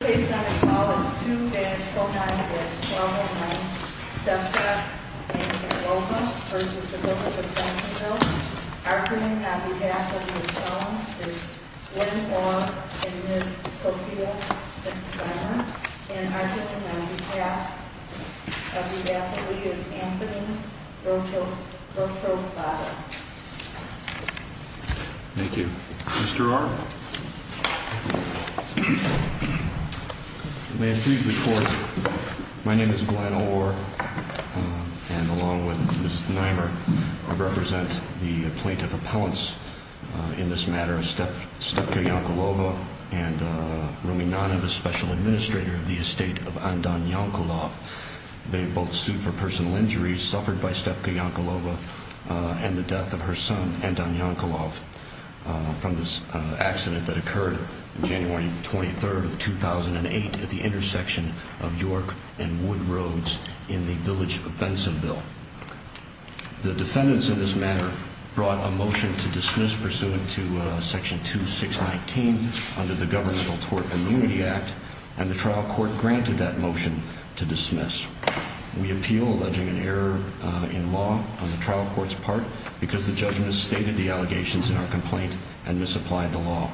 Today's Senate Call is 2-490-1209. Stefka and Yankulova v. Village of Bensenville. Our Green Abbey Daphne is one more in Ms. Sophia St. Clair. And our Green Abbey Daphne is Anthony Rotroflata. Thank you. Mr. Orr? May it please the Court. My name is Glen Orr. And along with Ms. Nimer, I represent the plaintiff appellants in this matter, Stefka Yankulova and Rumi Nanov, Special Administrator of the Estate of Anton Yankulov. They both sued for personal injuries suffered by Stefka Yankulova and the death of her son, Anton Yankulov, from this accident that occurred on January 23, 2008, at the intersection of York and Wood Roads in the Village of Bensenville. The defendants in this matter brought a motion to dismiss, pursuant to Section 2619 under the Governmental Tort Immunity Act, and the trial court granted that motion to dismiss. We appeal, alleging an error in law on the trial court's part because the judgment stated the allegations in our complaint and misapplied the law.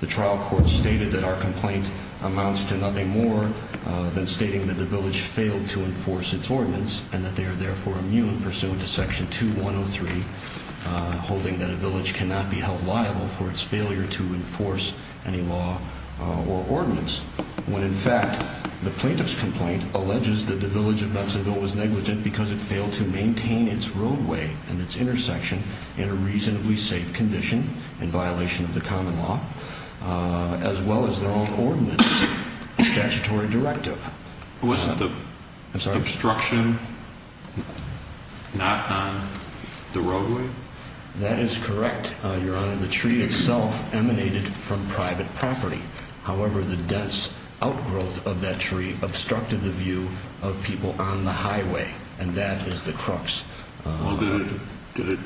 The trial court stated that our complaint amounts to nothing more than stating that the village failed to enforce its ordinance and that they are therefore immune, pursuant to Section 2103, holding that a village cannot be held liable for its failure to enforce any law or ordinance, when in fact the plaintiff's complaint alleges that the Village of Bensenville was negligent because it failed to maintain its roadway and its intersection in a reasonably safe condition, in violation of the common law, as well as their own ordinance and statutory directive. Wasn't the obstruction not on the roadway? That is correct, Your Honor. The tree itself emanated from private property. However, the dense outgrowth of that tree obstructed the view of people on the highway, and that is the crux. Well, did it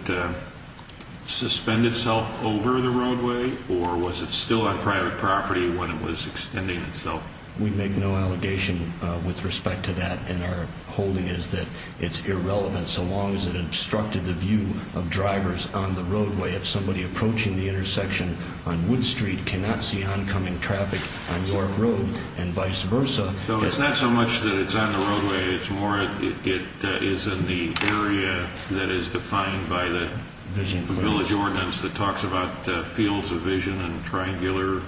suspend itself over the roadway, or was it still on private property when it was extending itself? We make no allegation with respect to that, and our holding is that it's irrelevant, so long as it obstructed the view of drivers on the roadway. If somebody approaching the intersection on Wood Street cannot see oncoming traffic on York Road, and vice versa... So it's not so much that it's on the roadway, it's more that it is in the area that is defined by the village ordinance that talks about fields of vision and triangular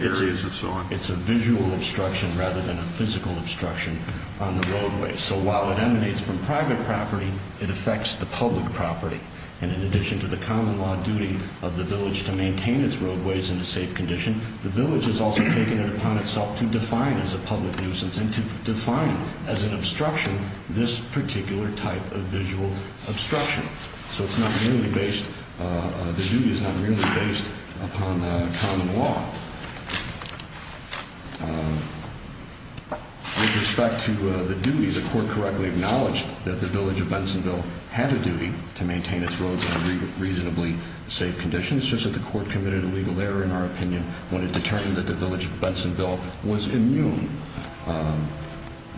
areas and so on. It's a visual obstruction rather than a physical obstruction on the roadway. So while it emanates from private property, it affects the public property. And in addition to the common law duty of the village to maintain its roadways in a safe condition, the village has also taken it upon itself to define as a public nuisance, and to define as an obstruction this particular type of visual obstruction. So it's not really based... the duty is not really based upon common law. With respect to the duties, the court correctly acknowledged that the village of Bensonville had a duty to maintain its roads in a reasonably safe condition. It's just that the court committed a legal error, in our opinion, when it determined that the village of Bensonville was immune.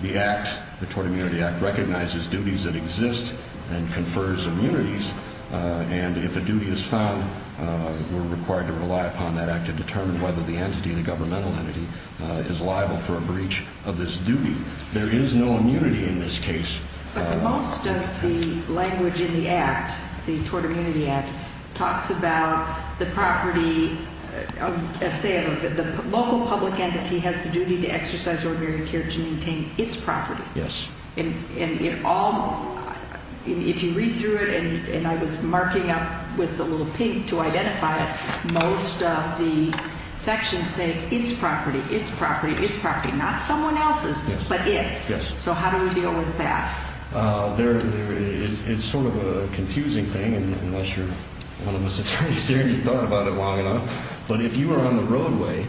The act, the Tort Immunity Act, recognizes duties that exist and confers immunities, and if a duty is found, we're required to rely upon that act to determine whether the entity, the governmental entity, is liable for a breach of this duty. There is no immunity in this case. But most of the language in the act, the Tort Immunity Act, talks about the property of... say the local public entity has the duty to exercise ordinary care to maintain its property. Yes. And it all... if you read through it, and I was marking up with a little pink to identify it, most of the sections say it's property, it's property, it's property. Not someone else's, but it's. Yes. So how do we deal with that? It's sort of a confusing thing, unless you're one of us attorneys here and you've thought about it long enough. But if you are on the roadway,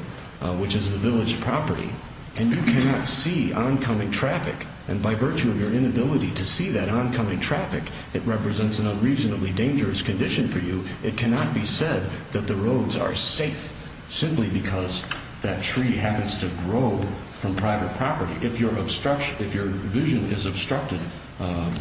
which is the village property, and you cannot see oncoming traffic, and by virtue of your inability to see that oncoming traffic, it represents an unreasonably dangerous condition for you, it cannot be said that the roads are safe simply because that tree happens to grow from private property. If your vision is obstructed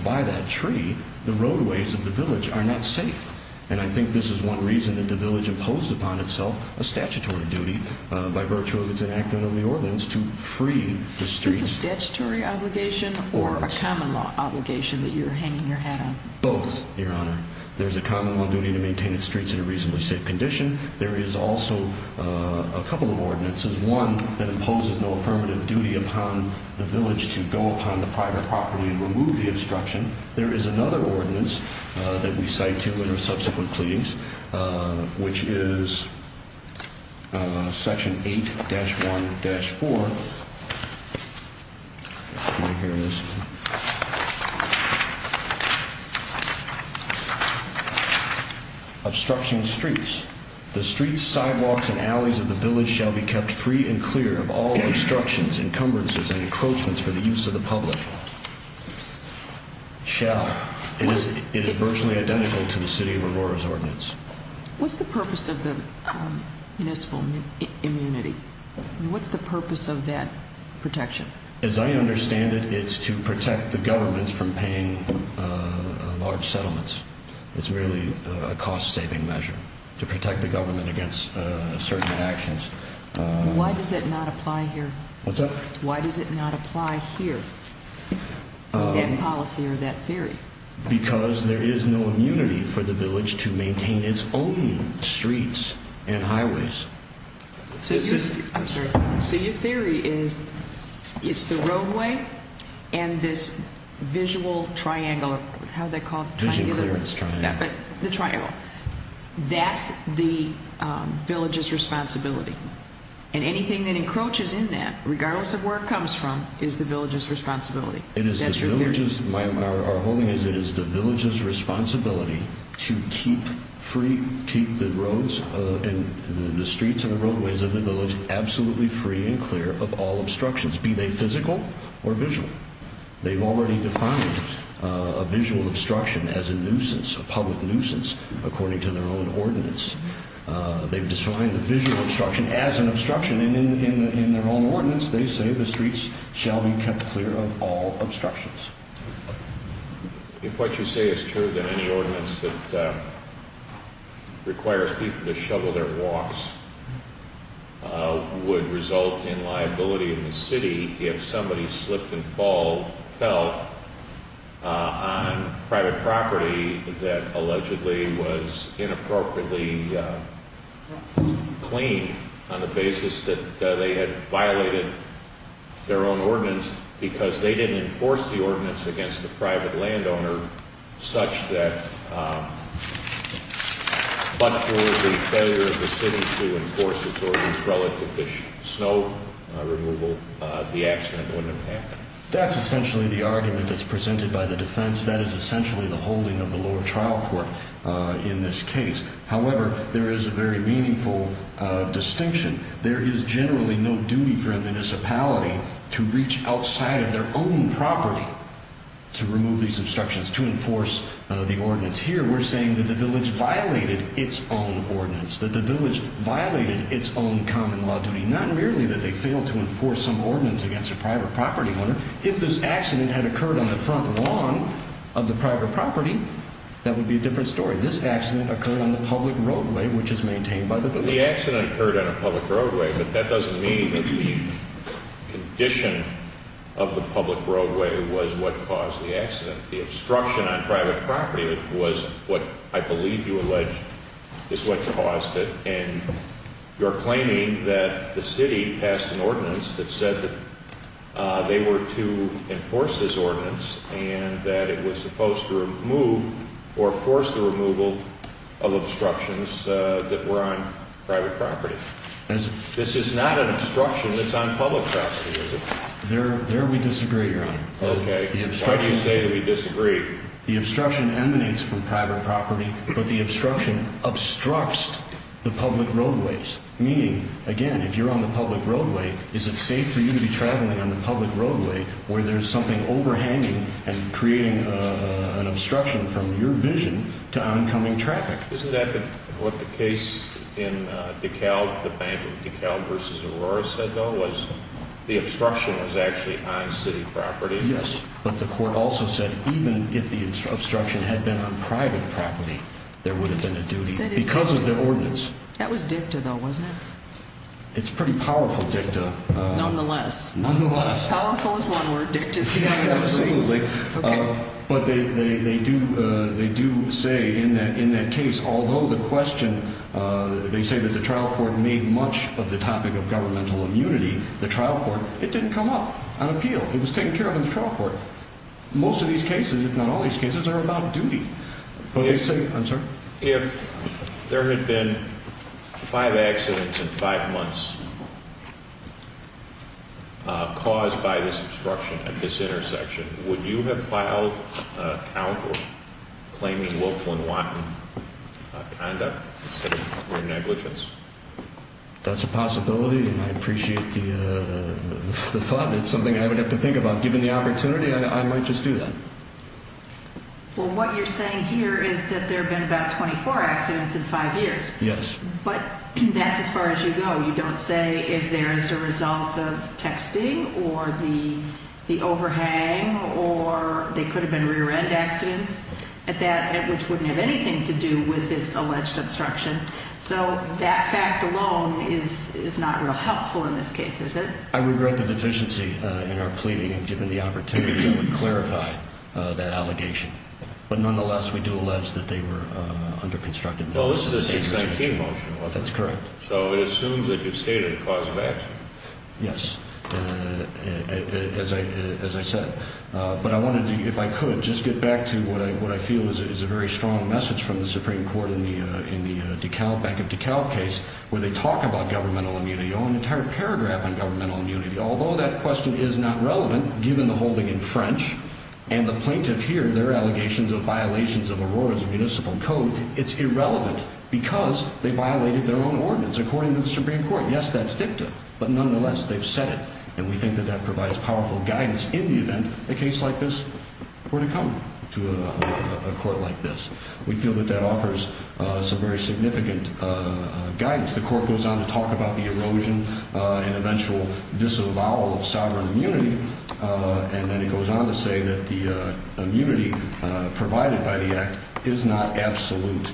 by that tree, the roadways of the village are not safe. And I think this is one reason that the village imposed upon itself a statutory duty by virtue of its enactment of the ordinance to free the streets. Is this a statutory obligation or a common law obligation that you're hanging your hat on? Both, Your Honor. There's a common law duty to maintain its streets in a reasonably safe condition. There is also a couple of ordinances. One that imposes no affirmative duty upon the village to go upon the private property and remove the obstruction. There is another ordinance that we cite to in our subsequent pleadings, which is Section 8-1-4. Let me hear this. The streets, sidewalks, and alleys of the village shall be kept free and clear of all obstructions, encumbrances, and encroachments for the use of the public. Shall. It is virtually identical to the City of Aurora's ordinance. What's the purpose of the municipal immunity? What's the purpose of that protection? As I understand it, it's to protect the governments from paying large settlements. It's really a cost-saving measure to protect the government against certain actions. Why does it not apply here? What's that? Why does it not apply here, that policy or that theory? Because there is no immunity for the village to maintain its own streets and highways. So your theory is it's the roadway and this visual triangle. How do they call it? Vision clearance triangle. The triangle. That's the village's responsibility. And anything that encroaches in that, regardless of where it comes from, is the village's responsibility. It is the village's responsibility to keep the streets and the roadways of the village absolutely free and clear of all obstructions, be they physical or visual. They've already defined a visual obstruction as a nuisance, a public nuisance, according to their own ordinance. They've defined the visual obstruction as an obstruction, and in their own ordinance, they say the streets shall be kept clear of all obstructions. If what you say is true, then any ordinance that requires people to shovel their walks would result in liability in the city if somebody slipped and fell on private property that allegedly was inappropriately cleaned on the basis that they had violated their own ordinance because they didn't enforce the ordinance against the private landowner such that but for the failure of the city to enforce its ordinance relative to snow removal, the accident wouldn't have happened. That's essentially the argument that's presented by the defense. That is essentially the holding of the lower trial court in this case. However, there is a very meaningful distinction. There is generally no duty for a municipality to reach outside of their own property to remove these obstructions, to enforce the ordinance. Here, we're saying that the village violated its own ordinance, that the village violated its own common law duty, not merely that they failed to enforce some ordinance against a private property owner. If this accident had occurred on the front lawn of the private property, that would be a different story. This accident occurred on the public roadway, which is maintained by the village. The accident occurred on a public roadway, but that doesn't mean that the condition of the public roadway was what caused the accident. The obstruction on private property was what I believe you allege is what caused it. And you're claiming that the city passed an ordinance that said that they were to enforce this ordinance and that it was supposed to remove or force the removal of obstructions that were on private property. This is not an obstruction that's on public property, is it? There we disagree, Your Honor. Okay. Why do you say that we disagree? The obstruction emanates from private property, but the obstruction obstructs the public roadways. Meaning, again, if you're on the public roadway, is it safe for you to be traveling on the public roadway where there's something overhanging and creating an obstruction from your vision to oncoming traffic? Isn't that what the case in DeKalb, the Bank of DeKalb v. Aurora said, though, was the obstruction was actually on city property? Yes. But the court also said even if the obstruction had been on private property, there would have been a duty because of the ordinance. That was dicta, though, wasn't it? It's pretty powerful dicta. Nonetheless. Nonetheless. Powerful is one word, dicta is another word. Yeah, absolutely. Okay. But they do say in that case, although the question, they say that the trial court made much of the topic of governmental immunity, the trial court, it didn't come up on appeal. It was taken care of in the trial court. Most of these cases, if not all these cases, are about duty. I'm sorry? If there had been five accidents in five months caused by this obstruction at this intersection, would you have filed a count or claiming willful and wanton conduct instead of mere negligence? That's a possibility and I appreciate the thought. It's something I would have to think about. Given the opportunity, I might just do that. Well, what you're saying here is that there have been about 24 accidents in five years. Yes. But that's as far as you go. You don't say if there is a result of texting or the overhang or there could have been rear-end accidents at that, which wouldn't have anything to do with this alleged obstruction. So that fact alone is not real helpful in this case, is it? I regret the deficiency in our pleading and given the opportunity, I would clarify that allegation. But nonetheless, we do allege that they were under constructed measures. Well, this is a 619 motion. That's correct. So it assumes that you've stated a cause of action. Yes, as I said. But I wanted to, if I could, just get back to what I feel is a very strong message from the Supreme Court in the DeKalb, back of DeKalb case, where they talk about governmental immunity, an entire paragraph on governmental immunity. Although that question is not relevant, given the holding in French and the plaintiff here, their allegations of violations of Aurora's municipal code, it's irrelevant because they violated their own ordinance according to the Supreme Court. Yes, that's dicta. But nonetheless, they've said it. And we think that that provides powerful guidance in the event a case like this were to come to a court like this. We feel that that offers some very significant guidance. The court goes on to talk about the erosion and eventual disavowal of sovereign immunity. And then it goes on to say that the immunity provided by the act is not absolute.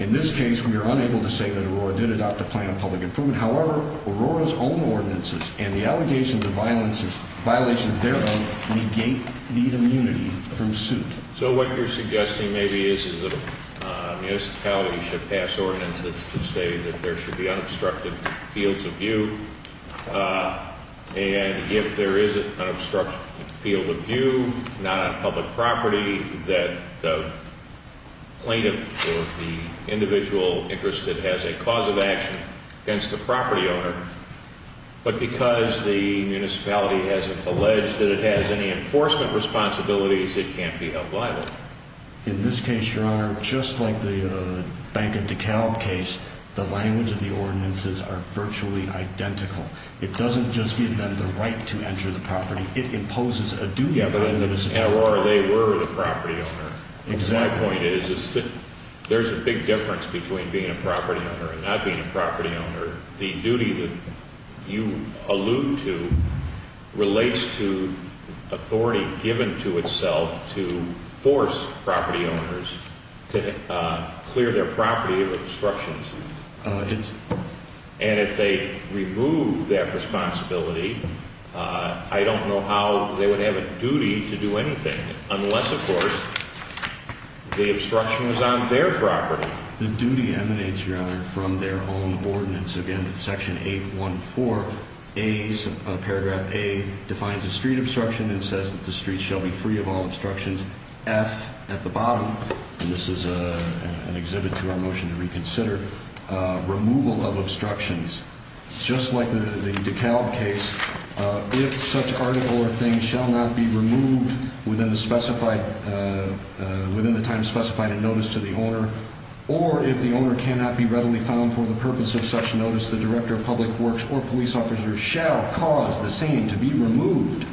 In this case, we are unable to say that Aurora did adopt a plan of public improvement. However, Aurora's own ordinances and the allegations of violations thereof negate the immunity from suit. So what you're suggesting maybe is that a municipality should pass ordinances that say that there should be unobstructed fields of view. And if there is an unobstructed field of view, not on public property, that the plaintiff or the individual interested has a cause of action against the property owner. But because the municipality hasn't alleged that it has any enforcement responsibilities, it can't be held liable. In this case, Your Honor, just like the Bank of DeKalb case, the language of the ordinances are virtually identical. It doesn't just give them the right to enter the property. It imposes a duty upon the municipality. And Aurora, they were the property owner. Exactly. My point is there's a big difference between being a property owner and not being a property owner. The duty that you allude to relates to authority given to itself to force property owners to clear their property of obstructions. And if they remove that responsibility, I don't know how they would have a duty to do anything. Unless, of course, the obstruction was on their property. The duty emanates, Your Honor, from their own ordinance. Again, Section 814A, Paragraph A, defines a street obstruction and says that the street shall be free of all obstructions. F at the bottom, and this is an exhibit to our motion to reconsider, removal of obstructions. Just like the DeKalb case, if such article or thing shall not be removed within the time specified in notice to the owner, or if the owner cannot be readily found for the purpose of such notice, the director of public works or police officer shall cause the same to be removed.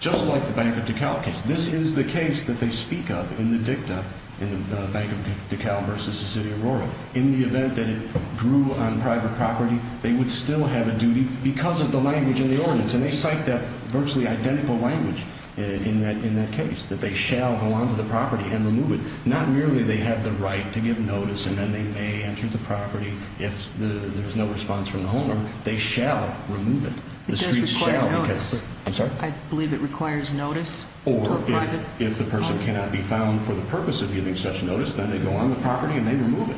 Just like the Bank of DeKalb case. This is the case that they speak of in the dicta in the Bank of DeKalb versus the City of Aurora. In the event that it grew on private property, they would still have a duty because of the language in the ordinance. And they cite that virtually identical language in that case, that they shall go onto the property and remove it. Not merely they have the right to give notice and then they may enter the property if there's no response from the owner. They shall remove it. It does require notice. I'm sorry? I believe it requires notice to a private property. If an obstruction cannot be found for the purpose of giving such notice, then they go on the property and they remove it.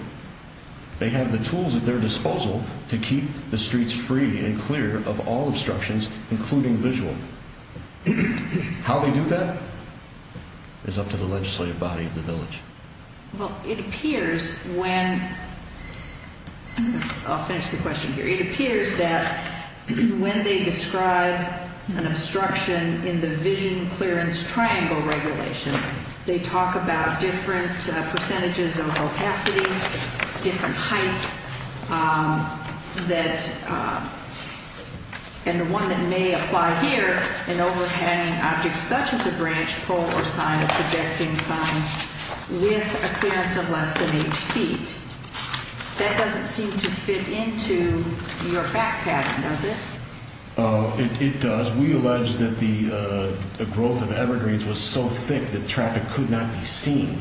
They have the tools at their disposal to keep the streets free and clear of all obstructions, including visual. How they do that is up to the legislative body of the village. Well, it appears when, I'll finish the question here. It appears that when they describe an obstruction in the vision clearance triangle regulation, they talk about different percentages of opacity, different heights, that, and the one that may apply here, an overhanging object such as a branch, pole, or sign, a projecting sign with a clearance of less than 8 feet. That doesn't seem to fit into your fact pattern, does it? It does. We allege that the growth of evergreens was so thick that traffic could not be seen.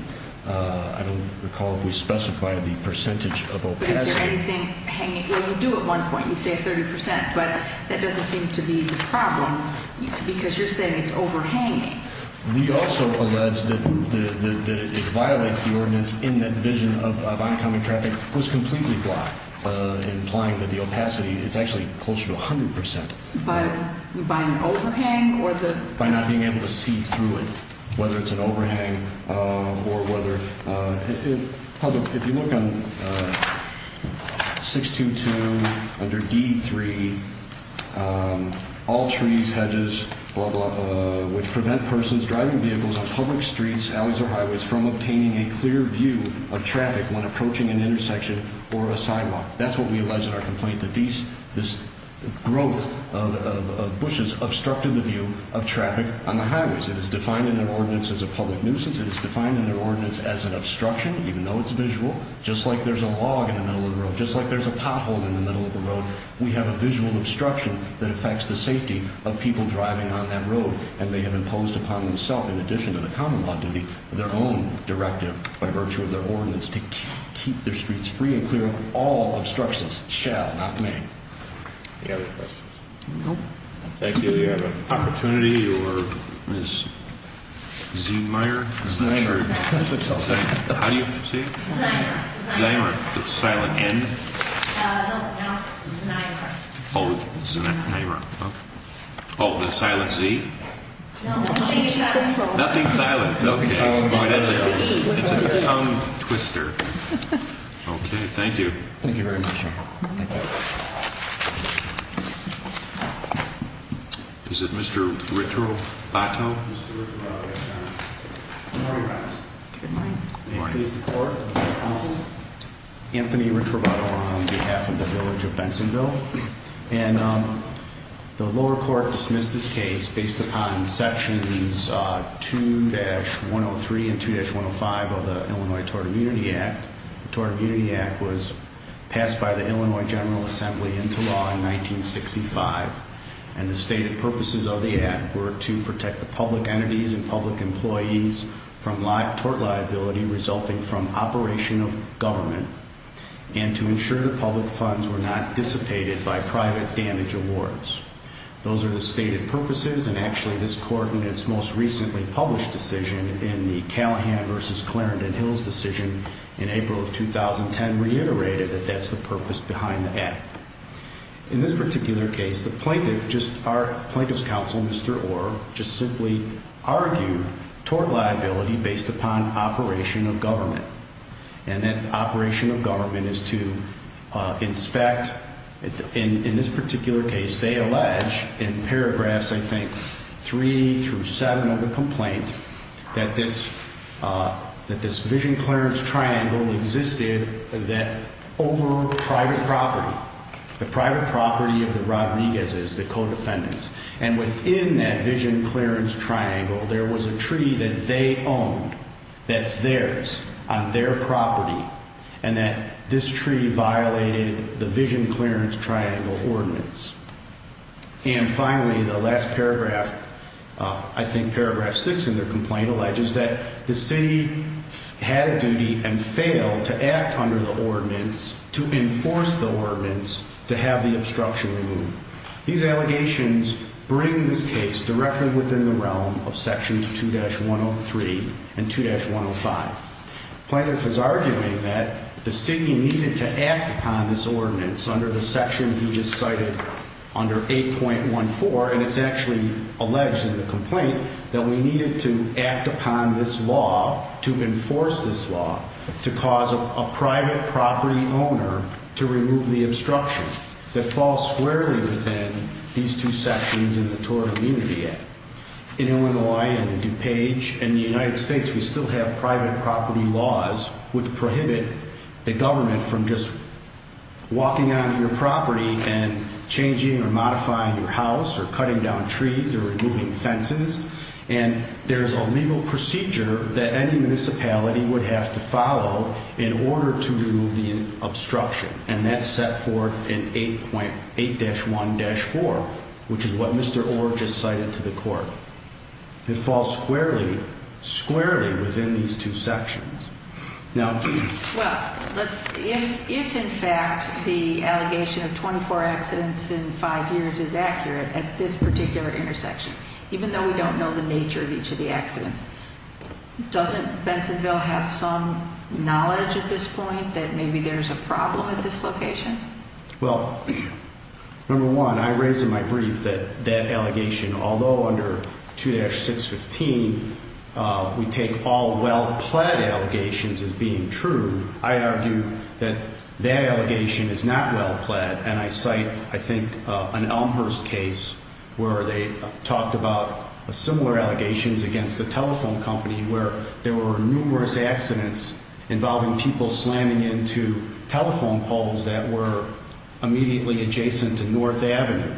I don't recall if we specified the percentage of opacity. Is there anything hanging? Well, you do at one point. You say 30%, but that doesn't seem to be the problem because you're saying it's overhanging. We also allege that it violates the ordinance in that the vision of oncoming traffic was completely blocked, implying that the opacity is actually closer to 100%. By an overhang or the- By not being able to see through it, whether it's an overhang or whether- If you look on 622 under D3, all trees, hedges, blah, blah, blah, which prevent persons driving vehicles on public streets, alleys, or highways from obtaining a clear view of traffic when approaching an intersection or a sidewalk. That's what we allege in our complaint, that this growth of bushes obstructed the view of traffic on the highways. It is defined in the ordinance as a public nuisance. It is defined in the ordinance as an obstruction, even though it's visual. Just like there's a log in the middle of the road, just like there's a pothole in the middle of the road, we have a visual obstruction that affects the safety of people driving on that road and may have imposed upon themselves, in addition to the common law duty, their own directive by virtue of their ordinance to keep their streets free and clear of all obstructions. Shall, not may. Any other questions? No. Thank you. Do we have an opportunity for Ms. Zehmeyer? Zehmeyer. How do you say it? Zehmeyer. Zehmeyer. The silent N? No, not Zehmeyer. Oh, Zehmeyer. Okay. Oh, the silent Z? No, she's so close. Nothing silent. Oh, that's a tongue twister. Okay, thank you. Thank you very much. Thank you. Is it Mr. Ricciobatto? Good morning, Your Honor. Good morning. May it please the Court. Anthony Ricciobatto on behalf of the village of Bensonville. And the lower court dismissed this case based upon sections 2-103 and 2-105 of the Illinois Tort Immunity Act. The Tort Immunity Act was passed by the Illinois General Assembly into law in 1965. And the stated purposes of the act were to protect the public entities and public employees from tort liability resulting from operation of government. And to ensure the public funds were not dissipated by private damage awards. Those are the stated purposes. And actually, this Court in its most recently published decision in the Callahan v. Clarendon Hills decision in April of 2010 reiterated that that's the purpose behind the act. In this particular case, the plaintiff, just our plaintiff's counsel, Mr. Orr, just simply argued tort liability based upon operation of government. And that operation of government is to inspect. In this particular case, they allege in paragraphs, I think, 3 through 7 of the complaint that this vision clearance triangle existed over private property. The private property of the Rodriguez's, the co-defendants. And within that vision clearance triangle, there was a tree that they owned that's theirs on their property. And that this tree violated the vision clearance triangle ordinance. And finally, the last paragraph, I think paragraph 6 in their complaint, alleges that the city had a duty and failed to act under the ordinance to enforce the ordinance to have the obstruction removed. These allegations bring this case directly within the realm of sections 2-103 and 2-105. Plaintiff is arguing that the city needed to act upon this ordinance under the section he just cited under 8.14. And it's actually alleged in the complaint that we needed to act upon this law to enforce this law to cause a private property owner to remove the obstruction that falls squarely within these two sections in the Tort Immunity Act. In Illinois and DuPage and the United States, we still have private property laws which prohibit the government from just walking onto your property and changing or modifying your house or cutting down trees or removing fences. And there's a legal procedure that any municipality would have to follow in order to remove the obstruction. And that's set forth in 8.8-1-4, which is what Mr. Orr just cited to the court. It falls squarely, squarely within these two sections. Well, if in fact the allegation of 24 accidents in five years is accurate at this particular intersection, even though we don't know the nature of each of the accidents, doesn't Bensonville have some knowledge at this point that maybe there's a problem at this location? Well, number one, I raise in my brief that that allegation, although under 2-615 we take all well-pled allegations as being true, I argue that that allegation is not well-pled. And I cite, I think, an Elmhurst case where they talked about similar allegations against a telephone company where there were numerous accidents involving people slamming into telephone poles that were immediately adjacent to North Avenue.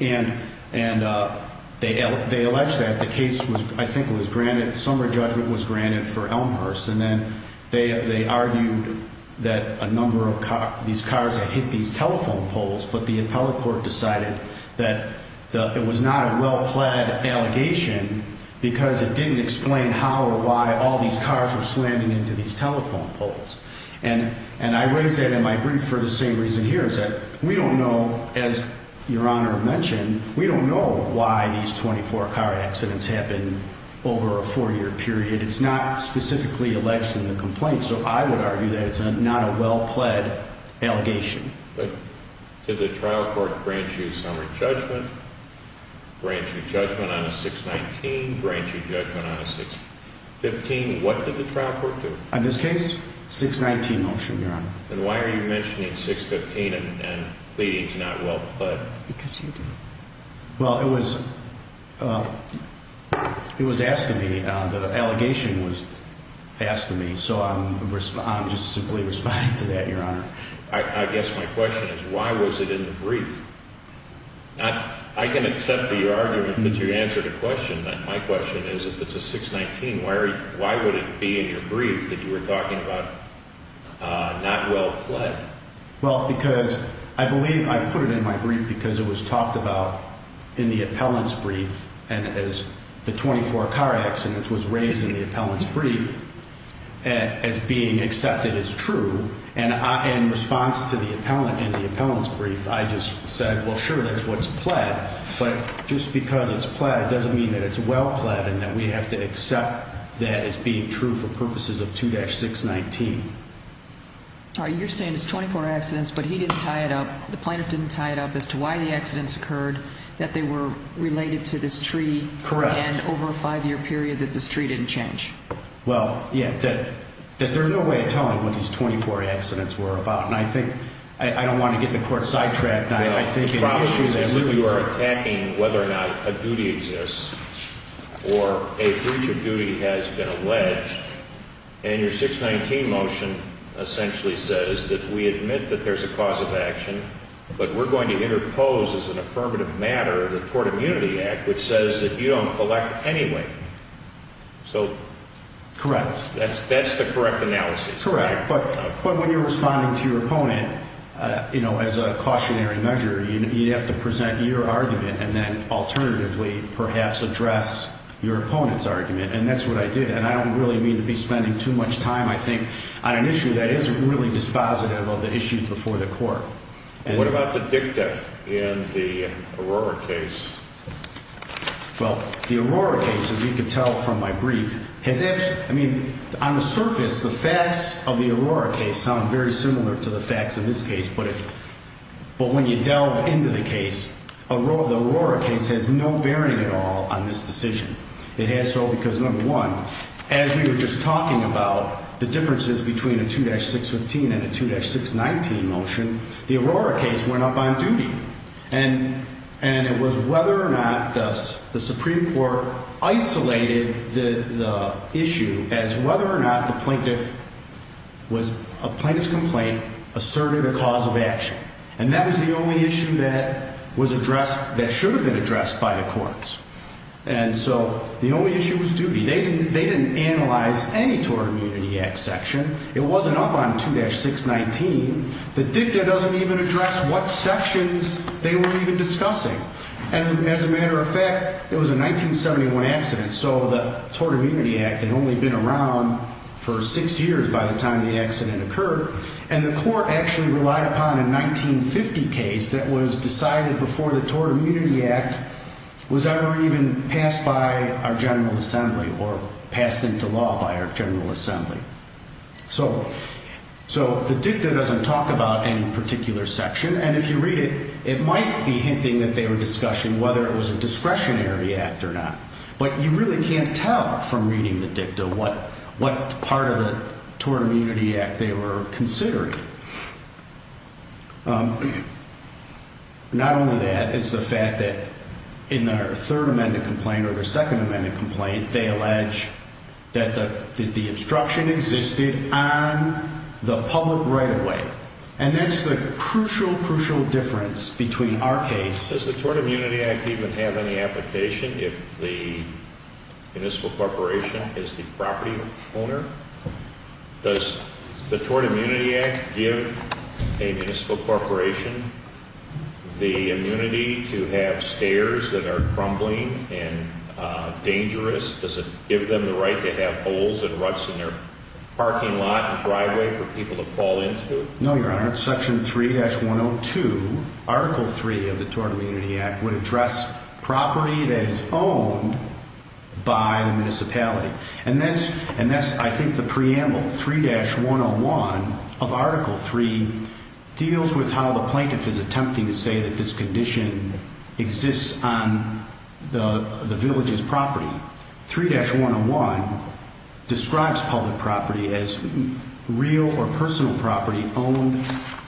And they alleged that. The case was, I think, was granted, summary judgment was granted for Elmhurst. And then they argued that a number of these cars had hit these telephone poles, but the appellate court decided that it was not a well-pled allegation because it didn't explain how or why all these cars were slamming into these telephone poles. And I raise that in my brief for the same reason here, is that we don't know, as Your Honor mentioned, we don't know why these 24 car accidents happen over a four-year period. It's not specifically alleged in the complaint. So I would argue that it's not a well-pled allegation. But did the trial court grant you summary judgment, grant you judgment on a 619, grant you judgment on a 615? What did the trial court do? In this case, 619 motion, Your Honor. And why are you mentioning 615 and pleading it's not well-pled? Because you didn't. Well, it was asked of me. The allegation was asked of me. So I'm just simply responding to that, Your Honor. I guess my question is, why was it in the brief? I can accept the argument that you answered a question. My question is, if it's a 619, why would it be in your brief that you were talking about not well-pled? Well, because I believe I put it in my brief because it was talked about in the appellant's brief and as the 24 car accidents was raised in the appellant's brief as being accepted as true. And in response to the appellant in the appellant's brief, I just said, well, sure, that's what's pled. But just because it's pled doesn't mean that it's well-pled and that we have to accept that as being true for purposes of 2-619. You're saying it's 24 accidents, but he didn't tie it up, the plaintiff didn't tie it up as to why the accidents occurred, that they were related to this tree. Correct. And over a five-year period that this tree didn't change. Well, yeah, that there's no way of telling what these 24 accidents were about. And I think I don't want to get the court sidetracked. The problem is that you are attacking whether or not a duty exists or a breach of duty has been alleged. And your 619 motion essentially says that we admit that there's a cause of action, but we're going to interpose as an affirmative matter the Tort Immunity Act, which says that you don't collect anyway. So. Correct. That's the correct analysis. Correct. But when you're responding to your opponent, you know, as a cautionary measure, you'd have to present your argument and then alternatively perhaps address your opponent's argument. And that's what I did. And I don't really mean to be spending too much time, I think, on an issue that isn't really dispositive of the issues before the court. What about the dicta in the Aurora case? Well, the Aurora case, as you can tell from my brief, has actually, I mean, on the surface, the facts of the Aurora case sound very similar to the facts of this case. But when you delve into the case, the Aurora case has no bearing at all on this decision. It has so because, number one, as we were just talking about the differences between a 2-615 and a 2-619 motion, the Aurora case went up on duty. And it was whether or not the Supreme Court isolated the issue as whether or not the plaintiff was, a plaintiff's complaint asserted a cause of action. And that is the only issue that was addressed, that should have been addressed by the courts. And so the only issue was duty. They didn't analyze any Tort Immunity Act section. It wasn't up on 2-619. The dicta doesn't even address what sections they were even discussing. And as a matter of fact, it was a 1971 accident, so the Tort Immunity Act had only been around for six years by the time the accident occurred. And the court actually relied upon a 1950 case that was decided before the Tort Immunity Act was ever even passed by our General Assembly or passed into law by our General Assembly. So the dicta doesn't talk about any particular section. And if you read it, it might be hinting that they were discussing whether it was a discretionary act or not. But you really can't tell from reading the dicta what part of the Tort Immunity Act they were considering. Not only that, it's the fact that in their Third Amendment complaint or their Second Amendment complaint, they allege that the obstruction existed on the public right-of-way. And that's the crucial, crucial difference between our case. Does the Tort Immunity Act even have any application if the municipal corporation is the property owner? Does the Tort Immunity Act give a municipal corporation the immunity to have stairs that are crumbling and dangerous? Does it give them the right to have holes and ruts in their parking lot and driveway for people to fall into? No, Your Honor. Section 3-102, Article 3 of the Tort Immunity Act would address property that is owned by the municipality. And that's, I think, the preamble. 3-101 of Article 3 deals with how the plaintiff is attempting to say that this condition exists on the village's property. 3-101 describes public property as real or personal property owned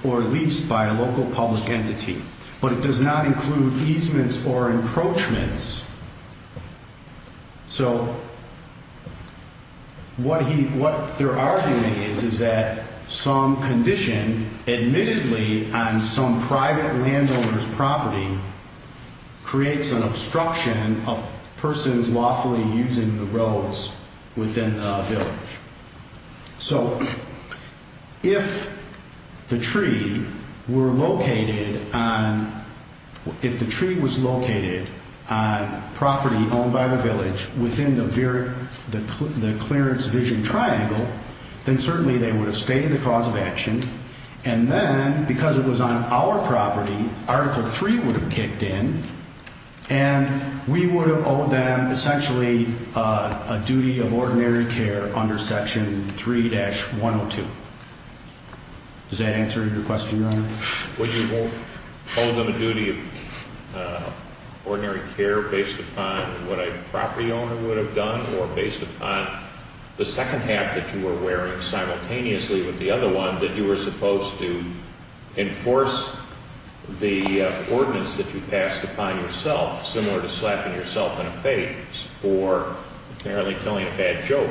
or leased by a local public entity. But it does not include easements or encroachments. So what he, what they're arguing is, is that some condition admittedly on some private landowner's property creates an obstruction of persons lawfully using the roads within the village. So if the tree were located on, if the tree was located on property owned by the village within the clearance vision triangle, then certainly they would have stated a cause of action. And then, because it was on our property, Article 3 would have kicked in and we would have owed them essentially a duty of ordinary care under Section 3-102. Does that answer your question, Your Honor? Would you owe them a duty of ordinary care based upon what a property owner would have done, or based upon the second half that you were wearing simultaneously with the other one, that you were supposed to enforce the ordinance that you passed upon yourself, similar to slapping yourself in a face for apparently telling a bad joke?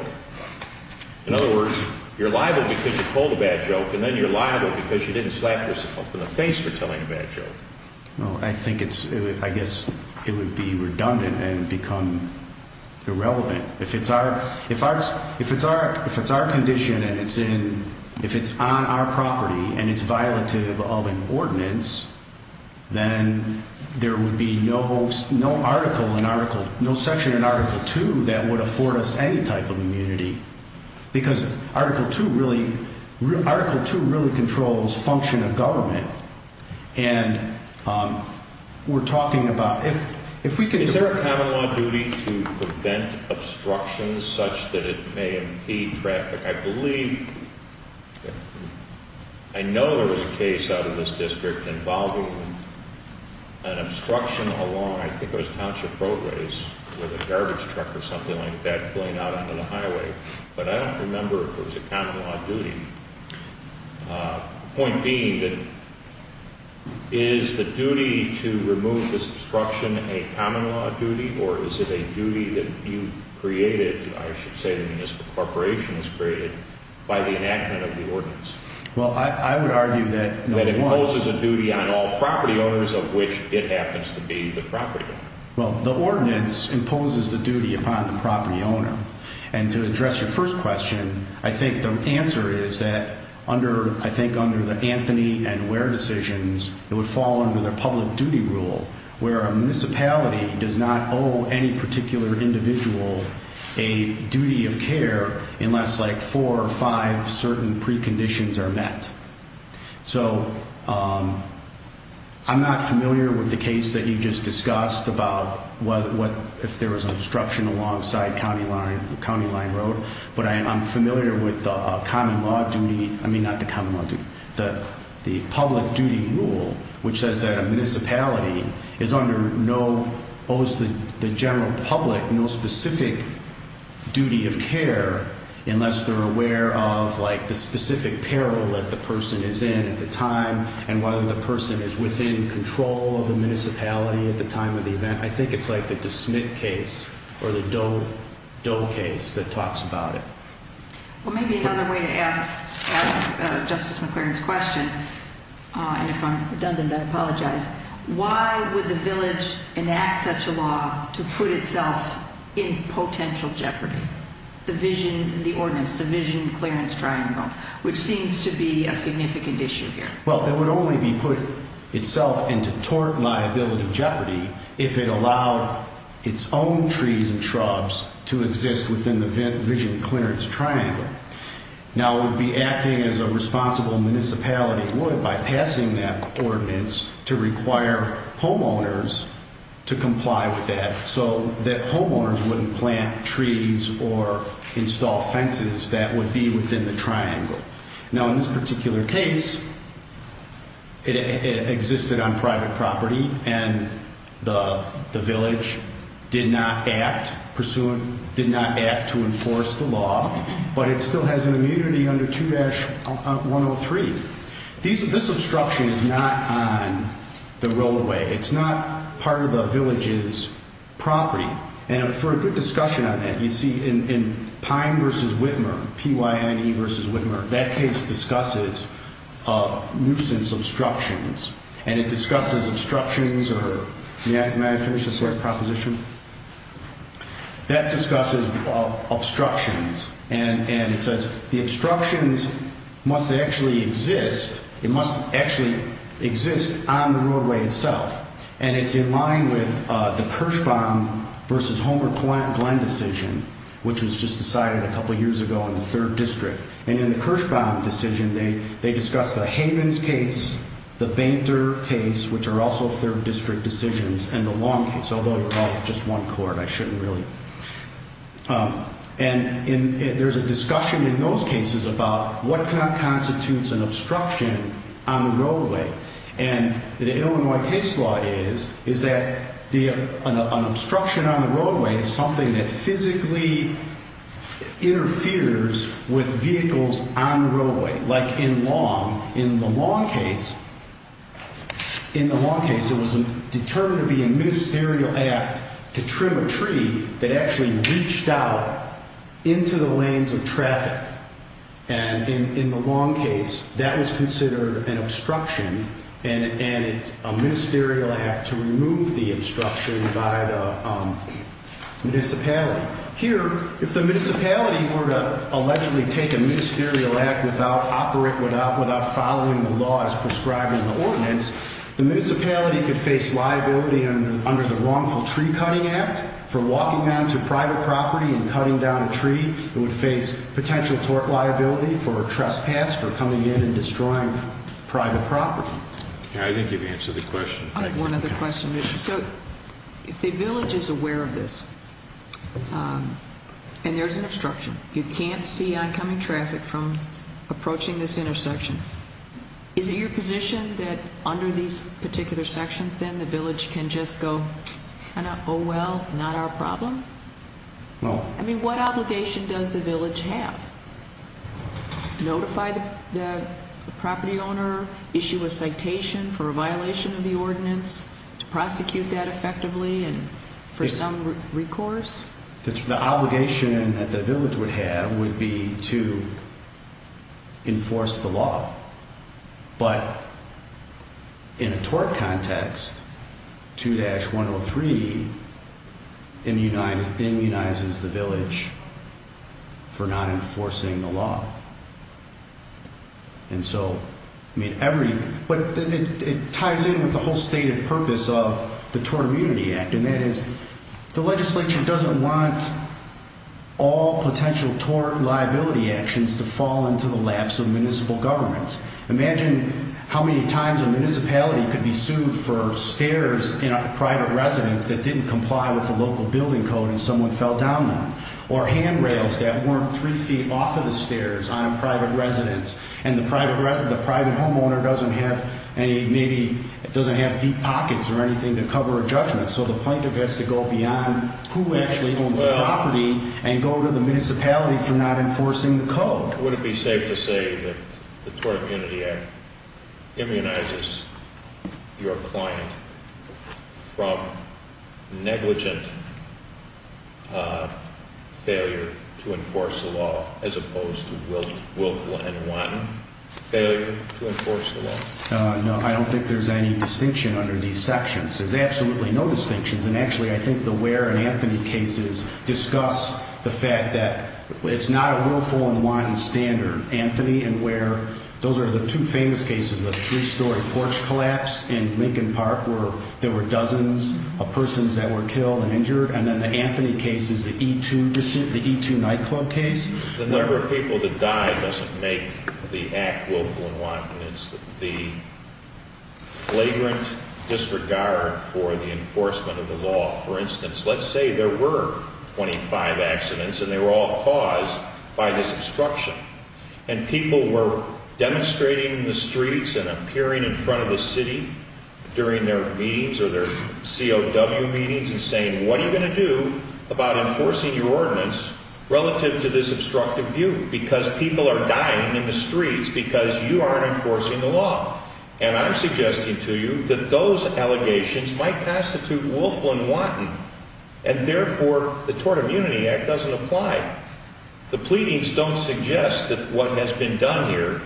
In other words, you're liable because you told a bad joke, and then you're liable because you didn't slap yourself in the face for telling a bad joke. Well, I think it's, I guess it would be redundant and become irrelevant. If it's our, if it's our condition and it's in, if it's on our property and it's violative of an ordinance, then there would be no article in Article, no section in Article 2 that would afford us any type of immunity. Because Article 2 really, Article 2 really controls function of government. And we're talking about, if, if we can... Is there a common law duty to prevent obstructions such that it may impede traffic? I believe, I know there was a case out of this district involving an obstruction along, I think it was Township Roadways, with a garbage truck or something like that going out onto the highway. But I don't remember if it was a common law duty. Point being that, is the duty to remove this obstruction a common law duty, or is it a duty that you've created, I should say the municipal corporation has created, by the enactment of the ordinance? Well, I would argue that... That it imposes a duty on all property owners of which it happens to be the property owner. Well, the ordinance imposes the duty upon the property owner. And to address your first question, I think the answer is that under, I think under the Anthony and Ware decisions, it would fall under the public duty rule, where a municipality does not owe any particular individual a duty of care unless like four or five certain preconditions are met. So, I'm not familiar with the case that you just discussed about if there was an obstruction alongside County Line Road, but I'm familiar with the public duty rule, which says that a municipality is under no, owes the general public no specific duty of care, unless they're aware of like the specific peril that the person is in at the time, and whether the person is within control of the municipality at the time of the event. I think it's like the DeSmit case, or the Doe case that talks about it. Well, maybe another way to ask Justice McClaren's question, and if I'm redundant, I apologize. Why would the village enact such a law to put itself in potential jeopardy? The vision, the ordinance, the Vision Clearance Triangle, which seems to be a significant issue here. Well, it would only be put itself into tort liability jeopardy if it allowed its own trees and shrubs to exist within the Vision Clearance Triangle. Now, it would be acting as a responsible municipality would by passing that ordinance to require homeowners to comply with that, so that homeowners wouldn't plant trees or install fences that would be within the triangle. Now, in this particular case, it existed on private property, and the village did not act to enforce the law, but it still has an immunity under 2-103. This obstruction is not on the roadway. It's not part of the village's property, and for a good discussion on that, you see in Pine v. Whitmer, P-Y-N-E v. Whitmer, that case discusses nuisance obstructions, and it discusses obstructions, or may I finish this last proposition? That discusses obstructions, and it says the obstructions must actually exist. It must actually exist on the roadway itself, and it's in line with the Kirschbaum v. Homer Glen decision, which was just decided a couple years ago in the 3rd District, and in the Kirschbaum decision, they discuss the Havens case, the Bainter case, which are also 3rd District decisions, and the Long case, although they're all just one court. I shouldn't really. And there's a discussion in those cases about what constitutes an obstruction on the roadway, and the Illinois case law is that an obstruction on the roadway is something that physically interferes with vehicles on the roadway, like in Long. In the Long case, in the Long case, it was determined to be a ministerial act to trim a tree that actually reached out into the lanes of traffic, and in the Long case, that was considered an obstruction and a ministerial act to remove the obstruction by the municipality. Here, if the municipality were to allegedly take a ministerial act without following the law as prescribed in the ordinance, the municipality could face liability under the wrongful tree cutting act for walking down to private property and cutting down a tree. It would face potential tort liability for trespass for coming in and destroying private property. I think you've answered the question. I have one other question. So, if the village is aware of this, and there's an obstruction, you can't see oncoming traffic from approaching this intersection, is it your position that under these particular sections, then, the village can just go, kind of, oh, well, not our problem? I mean, what obligation does the village have? Notify the property owner, issue a citation for a violation of the ordinance, to prosecute that effectively and for some recourse? The obligation that the village would have would be to enforce the law. But, in a tort context, 2-103 immunizes the village for not enforcing the law. And so, I mean, every, but it ties in with the whole stated purpose of the Tort Immunity Act, and that is the legislature doesn't want all potential tort liability actions to fall into the laps of municipal governments. Imagine how many times a municipality could be sued for stairs in a private residence that didn't comply with the local building code and someone fell down them, or handrails that weren't three feet off of the stairs on a private residence, and the private homeowner doesn't have any, maybe, doesn't have deep pockets or anything to cover a judgment, so the plaintiff has to go beyond who actually owns the property and go to the municipality for not enforcing the code. Would it be safe to say that the Tort Immunity Act immunizes your client from negligent failure to enforce the law, as opposed to willful and wanton failure to enforce the law? No, I don't think there's any distinction under these sections. There's absolutely no distinctions. And, actually, I think the where and Anthony cases discuss the fact that it's not a willful and wanton standard. Anthony and where, those are the two famous cases of a three-story porch collapse in Lincoln Park where there were dozens of persons that were killed and injured. And then the Anthony case is the E2 nightclub case. The number of people that died doesn't make the act willful and wanton. It's the flagrant disregard for the enforcement of the law. For instance, let's say there were 25 accidents, and they were all caused by this obstruction, and people were demonstrating in the streets and appearing in front of the city during their meetings or their COW meetings and saying, what are you going to do about enforcing your ordinance relative to this obstructive view? Because people are dying in the streets because you aren't enforcing the law. And I'm suggesting to you that those allegations might constitute willful and wanton, and, therefore, the Tort Immunity Act doesn't apply. The pleadings don't suggest that what has been done here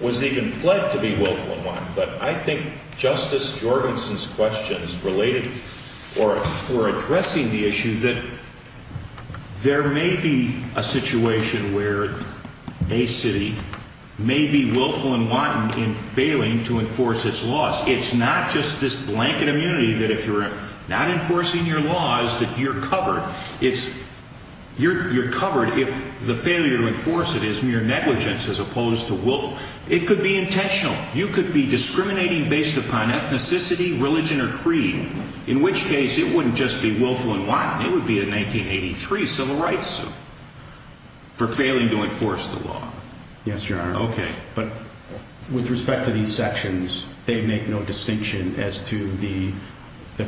was even pled to be willful and wanton, but I think Justice Jorgensen's questions related or are addressing the issue that there may be a situation where a city may be willful and wanton in failing to enforce its laws. It's not just this blanket immunity that if you're not enforcing your laws that you're covered. You're covered if the failure to enforce it is mere negligence as opposed to willful. It could be intentional. You could be discriminating based upon ethnicity, religion, or creed, in which case it wouldn't just be willful and wanton. It would be a 1983 civil rights suit for failing to enforce the law. Yes, Your Honor. Okay. But with respect to these sections, they make no distinction as to the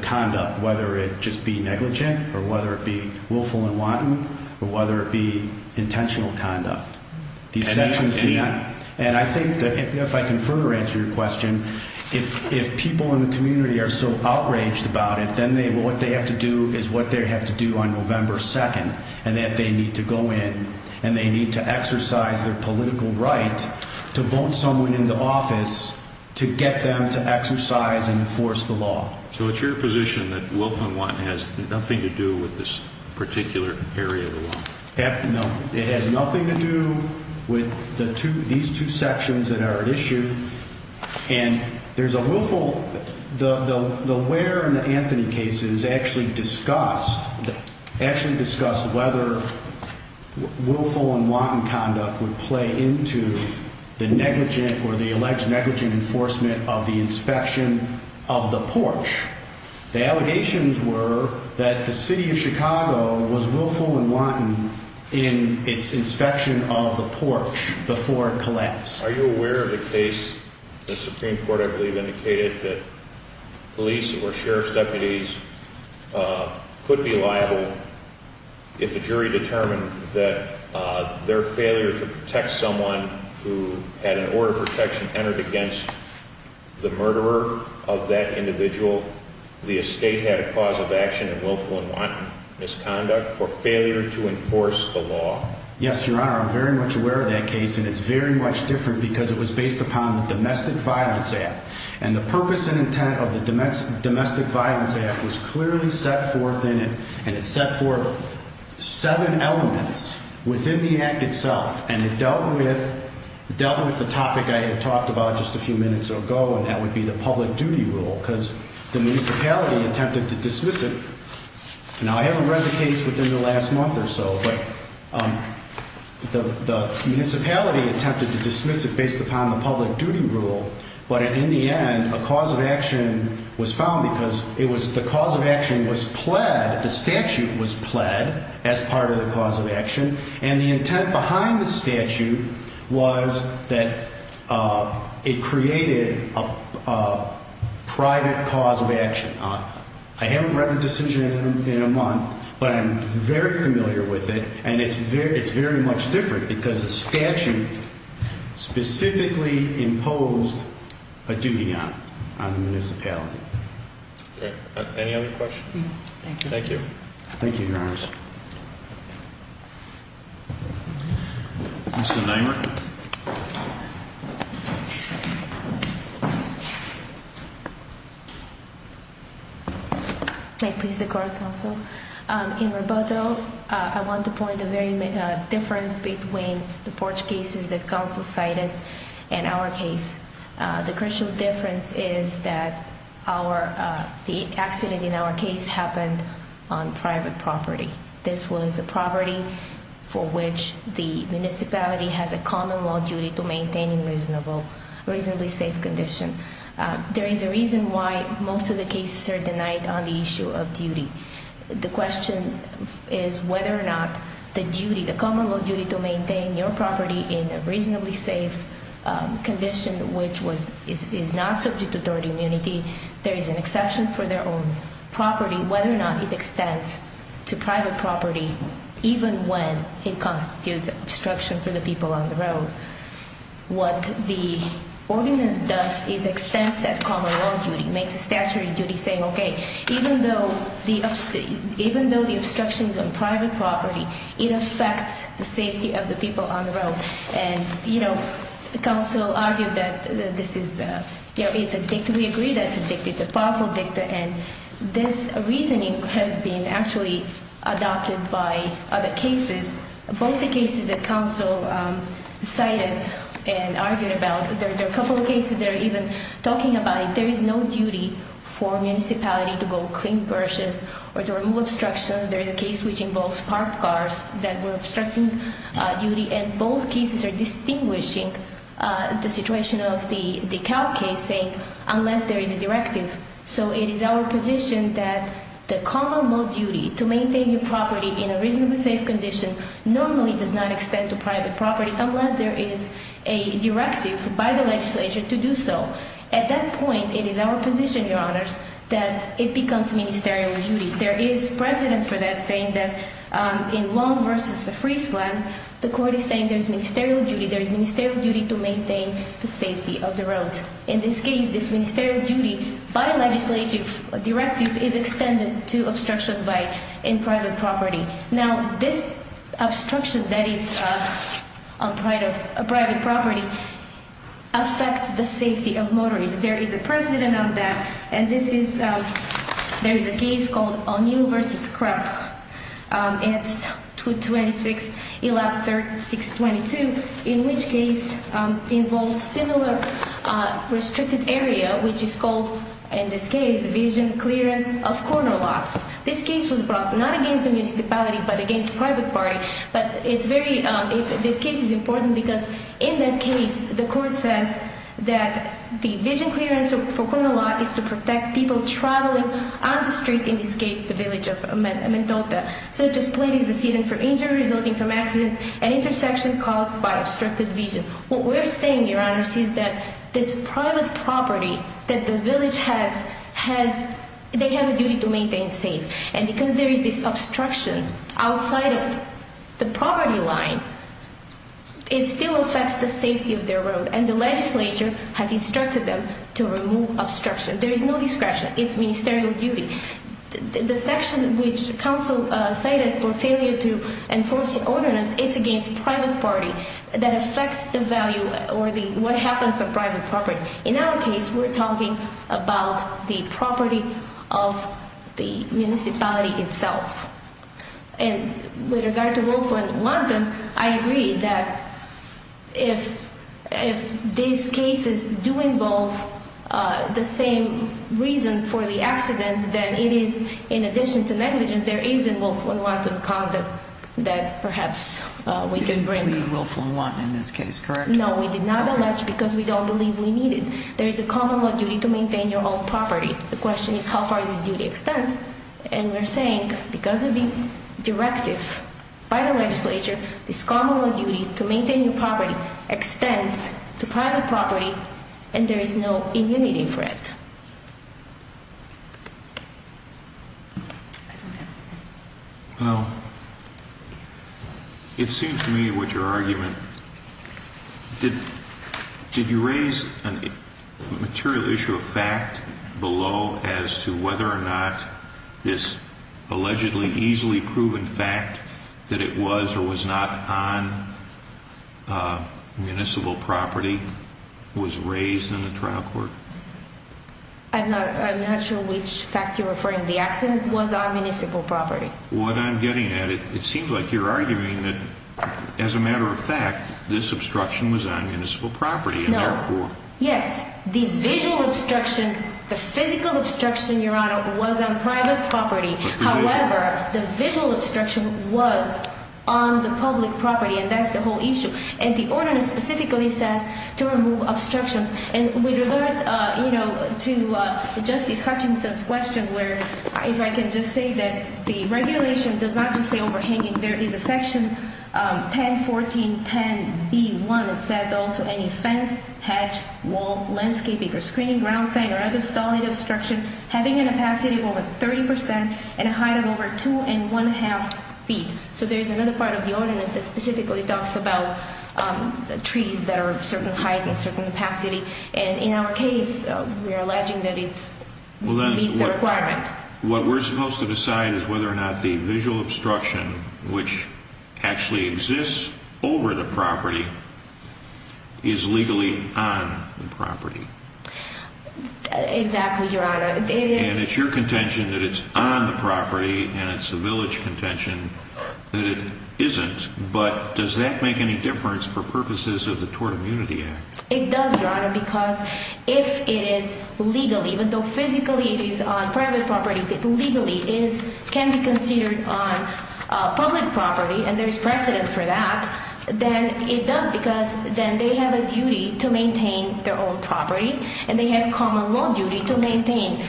conduct, whether it just be negligent or whether it be willful and wanton or whether it be intentional conduct. And I think that if I can further answer your question, if people in the community are so outraged about it, then what they have to do is what they have to do on November 2nd, and that they need to go in and they need to exercise their political right to vote someone into office to get them to exercise and enforce the law. So it's your position that willful and wanton has nothing to do with this particular area of the law? No. It has nothing to do with these two sections that are at issue. And there's a willful. The Ware and the Anthony cases actually discussed whether willful and wanton conduct would play into the negligent or the alleged negligent enforcement of the inspection of the porch. The allegations were that the city of Chicago was willful and wanton in its inspection of the porch before it collapsed. Are you aware of the case, the Supreme Court, I believe, indicated that police or sheriff's deputies could be liable if a jury determined that their failure to protect someone who had an order of protection entered against the murderer of that individual, the estate had a cause of action in willful and wanton misconduct or failure to enforce the law? Yes, Your Honor, I'm very much aware of that case, and it's very much different because it was based upon the Domestic Violence Act. And the purpose and intent of the Domestic Violence Act was clearly set forth in it, and it set forth seven elements within the act itself. And it dealt with the topic I had talked about just a few minutes ago, and that would be the public duty rule because the municipality attempted to dismiss it. Now, I haven't read the case within the last month or so, but the municipality attempted to dismiss it based upon the public duty rule. But in the end, a cause of action was found because the cause of action was pled, the statute was pled as part of the cause of action. And the intent behind the statute was that it created a private cause of action. I haven't read the decision in a month, but I'm very familiar with it, and it's very much different because the statute specifically imposed a duty on the municipality. Any other questions? Thank you. Thank you, Your Honors. Mr. Neumann. May it please the court, counsel? In rebuttal, I want to point a very big difference between the porch cases that counsel cited and our case. The crucial difference is that the accident in our case happened on private property. This was a property for which the municipality has a common law duty to maintain in reasonably safe condition. There is a reason why most of the cases are denied on the issue of duty. The question is whether or not the duty, the common law duty to maintain your property in a reasonably safe condition, which is not subject to third immunity, there is an exception for their own property, whether or not it extends to private property even when it constitutes obstruction for the people on the road. What the ordinance does is extends that common law duty, makes a statutory duty saying, okay, even though the obstruction is on private property, it affects the safety of the people on the road. And, you know, counsel argued that this is, you know, it's a dicta. We agree that it's a dicta. It's a powerful dicta. And this reasoning has been actually adopted by other cases. Both the cases that counsel cited and argued about, there are a couple of cases that are even talking about it. There is a duty for municipality to go clean burshes or to remove obstructions. There is a case which involves parked cars that were obstructing duty. And both cases are distinguishing the situation of the Dekalb case saying unless there is a directive. So it is our position that the common law duty to maintain your property in a reasonably safe condition normally does not extend to private property unless there is a directive by the legislature to do so. At that point, it is our position, your honors, that it becomes ministerial duty. There is precedent for that saying that in Long versus the Friesland, the court is saying there is ministerial duty. There is ministerial duty to maintain the safety of the road. In this case, this ministerial duty by legislative directive is extended to obstruction by in private property. Now, this obstruction that is on private property affects the safety of motorists. There is a precedent on that, and this is, there is a case called O'Neill versus Krep. It's 226-13622, in which case involves similar restricted area, which is called, in this case, vision clearance of corner lots. This case was brought not against the municipality but against private party. But it's very, this case is important because in that case, the court says that the vision clearance for corner lot is to protect people traveling on the street and escape the village of Mendota. So it just pleaded the seat in for injury resulting from accident at intersection caused by obstructed vision. What we're saying, Your Honor, is that this private property that the village has, they have a duty to maintain safe. And because there is this obstruction outside of the property line, it still affects the safety of their road. And the legislature has instructed them to remove obstruction. There is no discretion. It's ministerial duty. The section which counsel cited for failure to enforce the ordinance, it's against private party that affects the value or what happens to private property. In our case, we're talking about the property of the municipality itself. And with regard to willful and wanton, I agree that if these cases do involve the same reason for the accidents, then it is, in addition to negligence, there is a willful and wanton conduct that perhaps we can bring. You didn't plead willful and wanton in this case, correct? No, we did not allege because we don't believe we need it. There is a common law duty to maintain your own property. The question is how far this duty extends. And we're saying because of the directive by the legislature, this common law duty to maintain your property extends to private property, and there is no immunity for it. Well, it seems to me with your argument, did you raise a material issue of fact below as to whether or not this allegedly easily proven fact that it was or was not on municipal property was raised in the trial court? I'm not sure which fact you're referring to. The accident was on municipal property. What I'm getting at, it seems like you're arguing that, as a matter of fact, this obstruction was on municipal property. No. Yes. The visual obstruction, the physical obstruction, Your Honor, was on private property. However, the visual obstruction was on the public property, and that's the whole issue. And the ordinance specifically says to remove obstructions. And with regard to Justice Hutchinson's question where if I can just say that the regulation does not just say overhanging. There is a section 101410B1. It says also any fence, hatch, wall, landscaping or screening, ground sign, or other stalling obstruction having an opacity of over 30% and a height of over 2 1⁄2 feet. So there's another part of the ordinance that specifically talks about trees that are of a certain height and certain opacity. And in our case, we are alleging that it meets the requirement. What we're supposed to decide is whether or not the visual obstruction, which actually exists over the property, is legally on the property. Exactly, Your Honor. And it's your contention that it's on the property, and it's the village contention that it isn't. But does that make any difference for purposes of the Tort Immunity Act? It does, Your Honor, because if it is legally, even though physically it is on private property, if it legally can be considered on public property and there is precedent for that, then it does because then they have a duty to maintain their own property, and they have common law duty to maintain.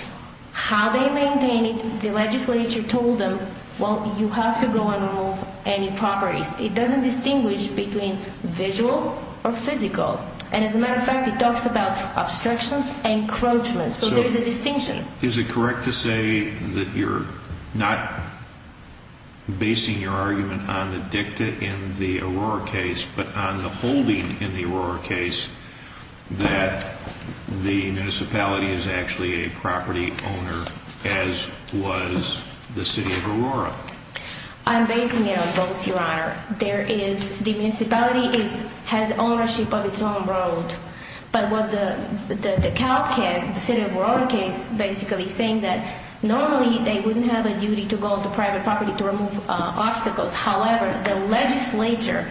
How they maintain it, the legislature told them, well, you have to go and remove any properties. It doesn't distinguish between visual or physical. And as a matter of fact, it talks about obstructions and encroachments. So there is a distinction. Is it correct to say that you're not basing your argument on the dicta in the Aurora case but on the holding in the Aurora case that the municipality is actually a property owner, as was the city of Aurora? I'm basing it on both, Your Honor. The municipality has ownership of its own road. But what the Calc case, the city of Aurora case, basically saying that normally they wouldn't have a duty to go on the private property to remove obstacles. However, the legislature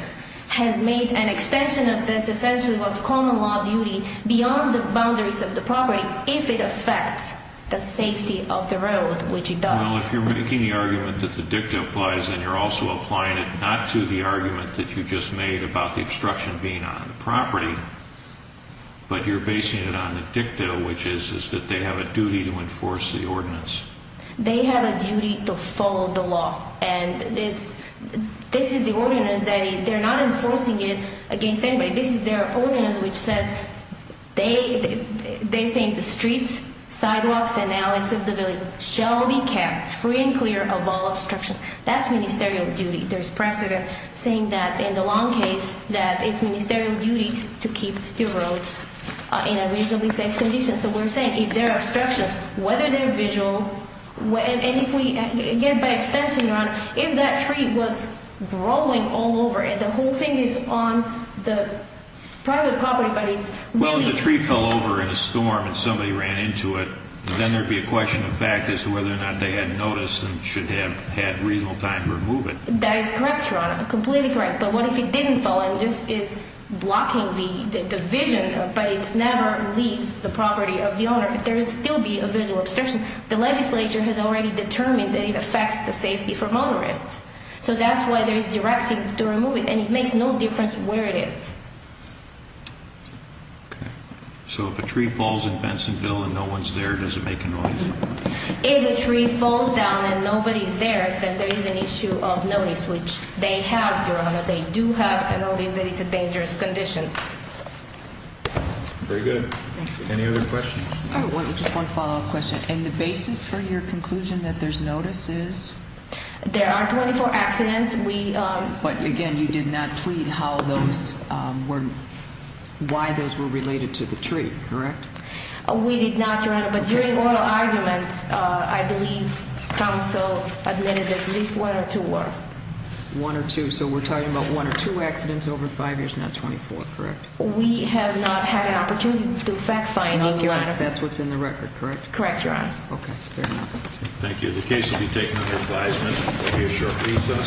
has made an extension of this essentially what's common law duty beyond the boundaries of the property if it affects the safety of the road, which it does. Well, if you're making the argument that the dicta applies, then you're also applying it not to the argument that you just made about the obstruction being on the property, but you're basing it on the dicta, which is that they have a duty to enforce the ordinance. They have a duty to follow the law. And this is the ordinance that they're not enforcing it against anybody. This is their ordinance, which says they're saying the streets, sidewalks, and alleys of the village shall be kept free and clear of all obstructions. That's ministerial duty. There's precedent saying that in the long case that it's ministerial duty to keep your roads in a reasonably safe condition. So we're saying if there are obstructions, whether they're visual, and if we, again, by extension, Your Honor, if that tree was growing all over and the whole thing is on the private property, but it's really- Well, if the tree fell over in a storm and somebody ran into it, then there'd be a question of fact as to whether or not they had noticed and should have had reasonable time to remove it. That is correct, Your Honor. Completely correct. But what if it didn't fall and just is blocking the vision, but it never leaves the property of the owner, but there would still be a visual obstruction? The legislature has already determined that it affects the safety for motorists. So that's why there is directive to remove it, and it makes no difference where it is. Okay. So if a tree falls in Bensonville and no one's there, does it make a noise? If a tree falls down and nobody's there, then there is an issue of notice, which they have, Your Honor. They do have a notice that it's a dangerous condition. Very good. Thank you. Any other questions? I just want to follow up a question. And the basis for your conclusion that there's notice is? There are 24 accidents. We- But, again, you did not plead how those were- why those were related to the tree, correct? We did not, Your Honor. But during oral arguments, I believe counsel admitted at least one or two were. One or two. So we're talking about one or two accidents over five years, not 24, correct? We have not had an opportunity to fact-find, Your Honor. Nonetheless, that's what's in the record, correct? Correct, Your Honor. Okay. Fair enough. Thank you. The case will be taken under advisement for future recess.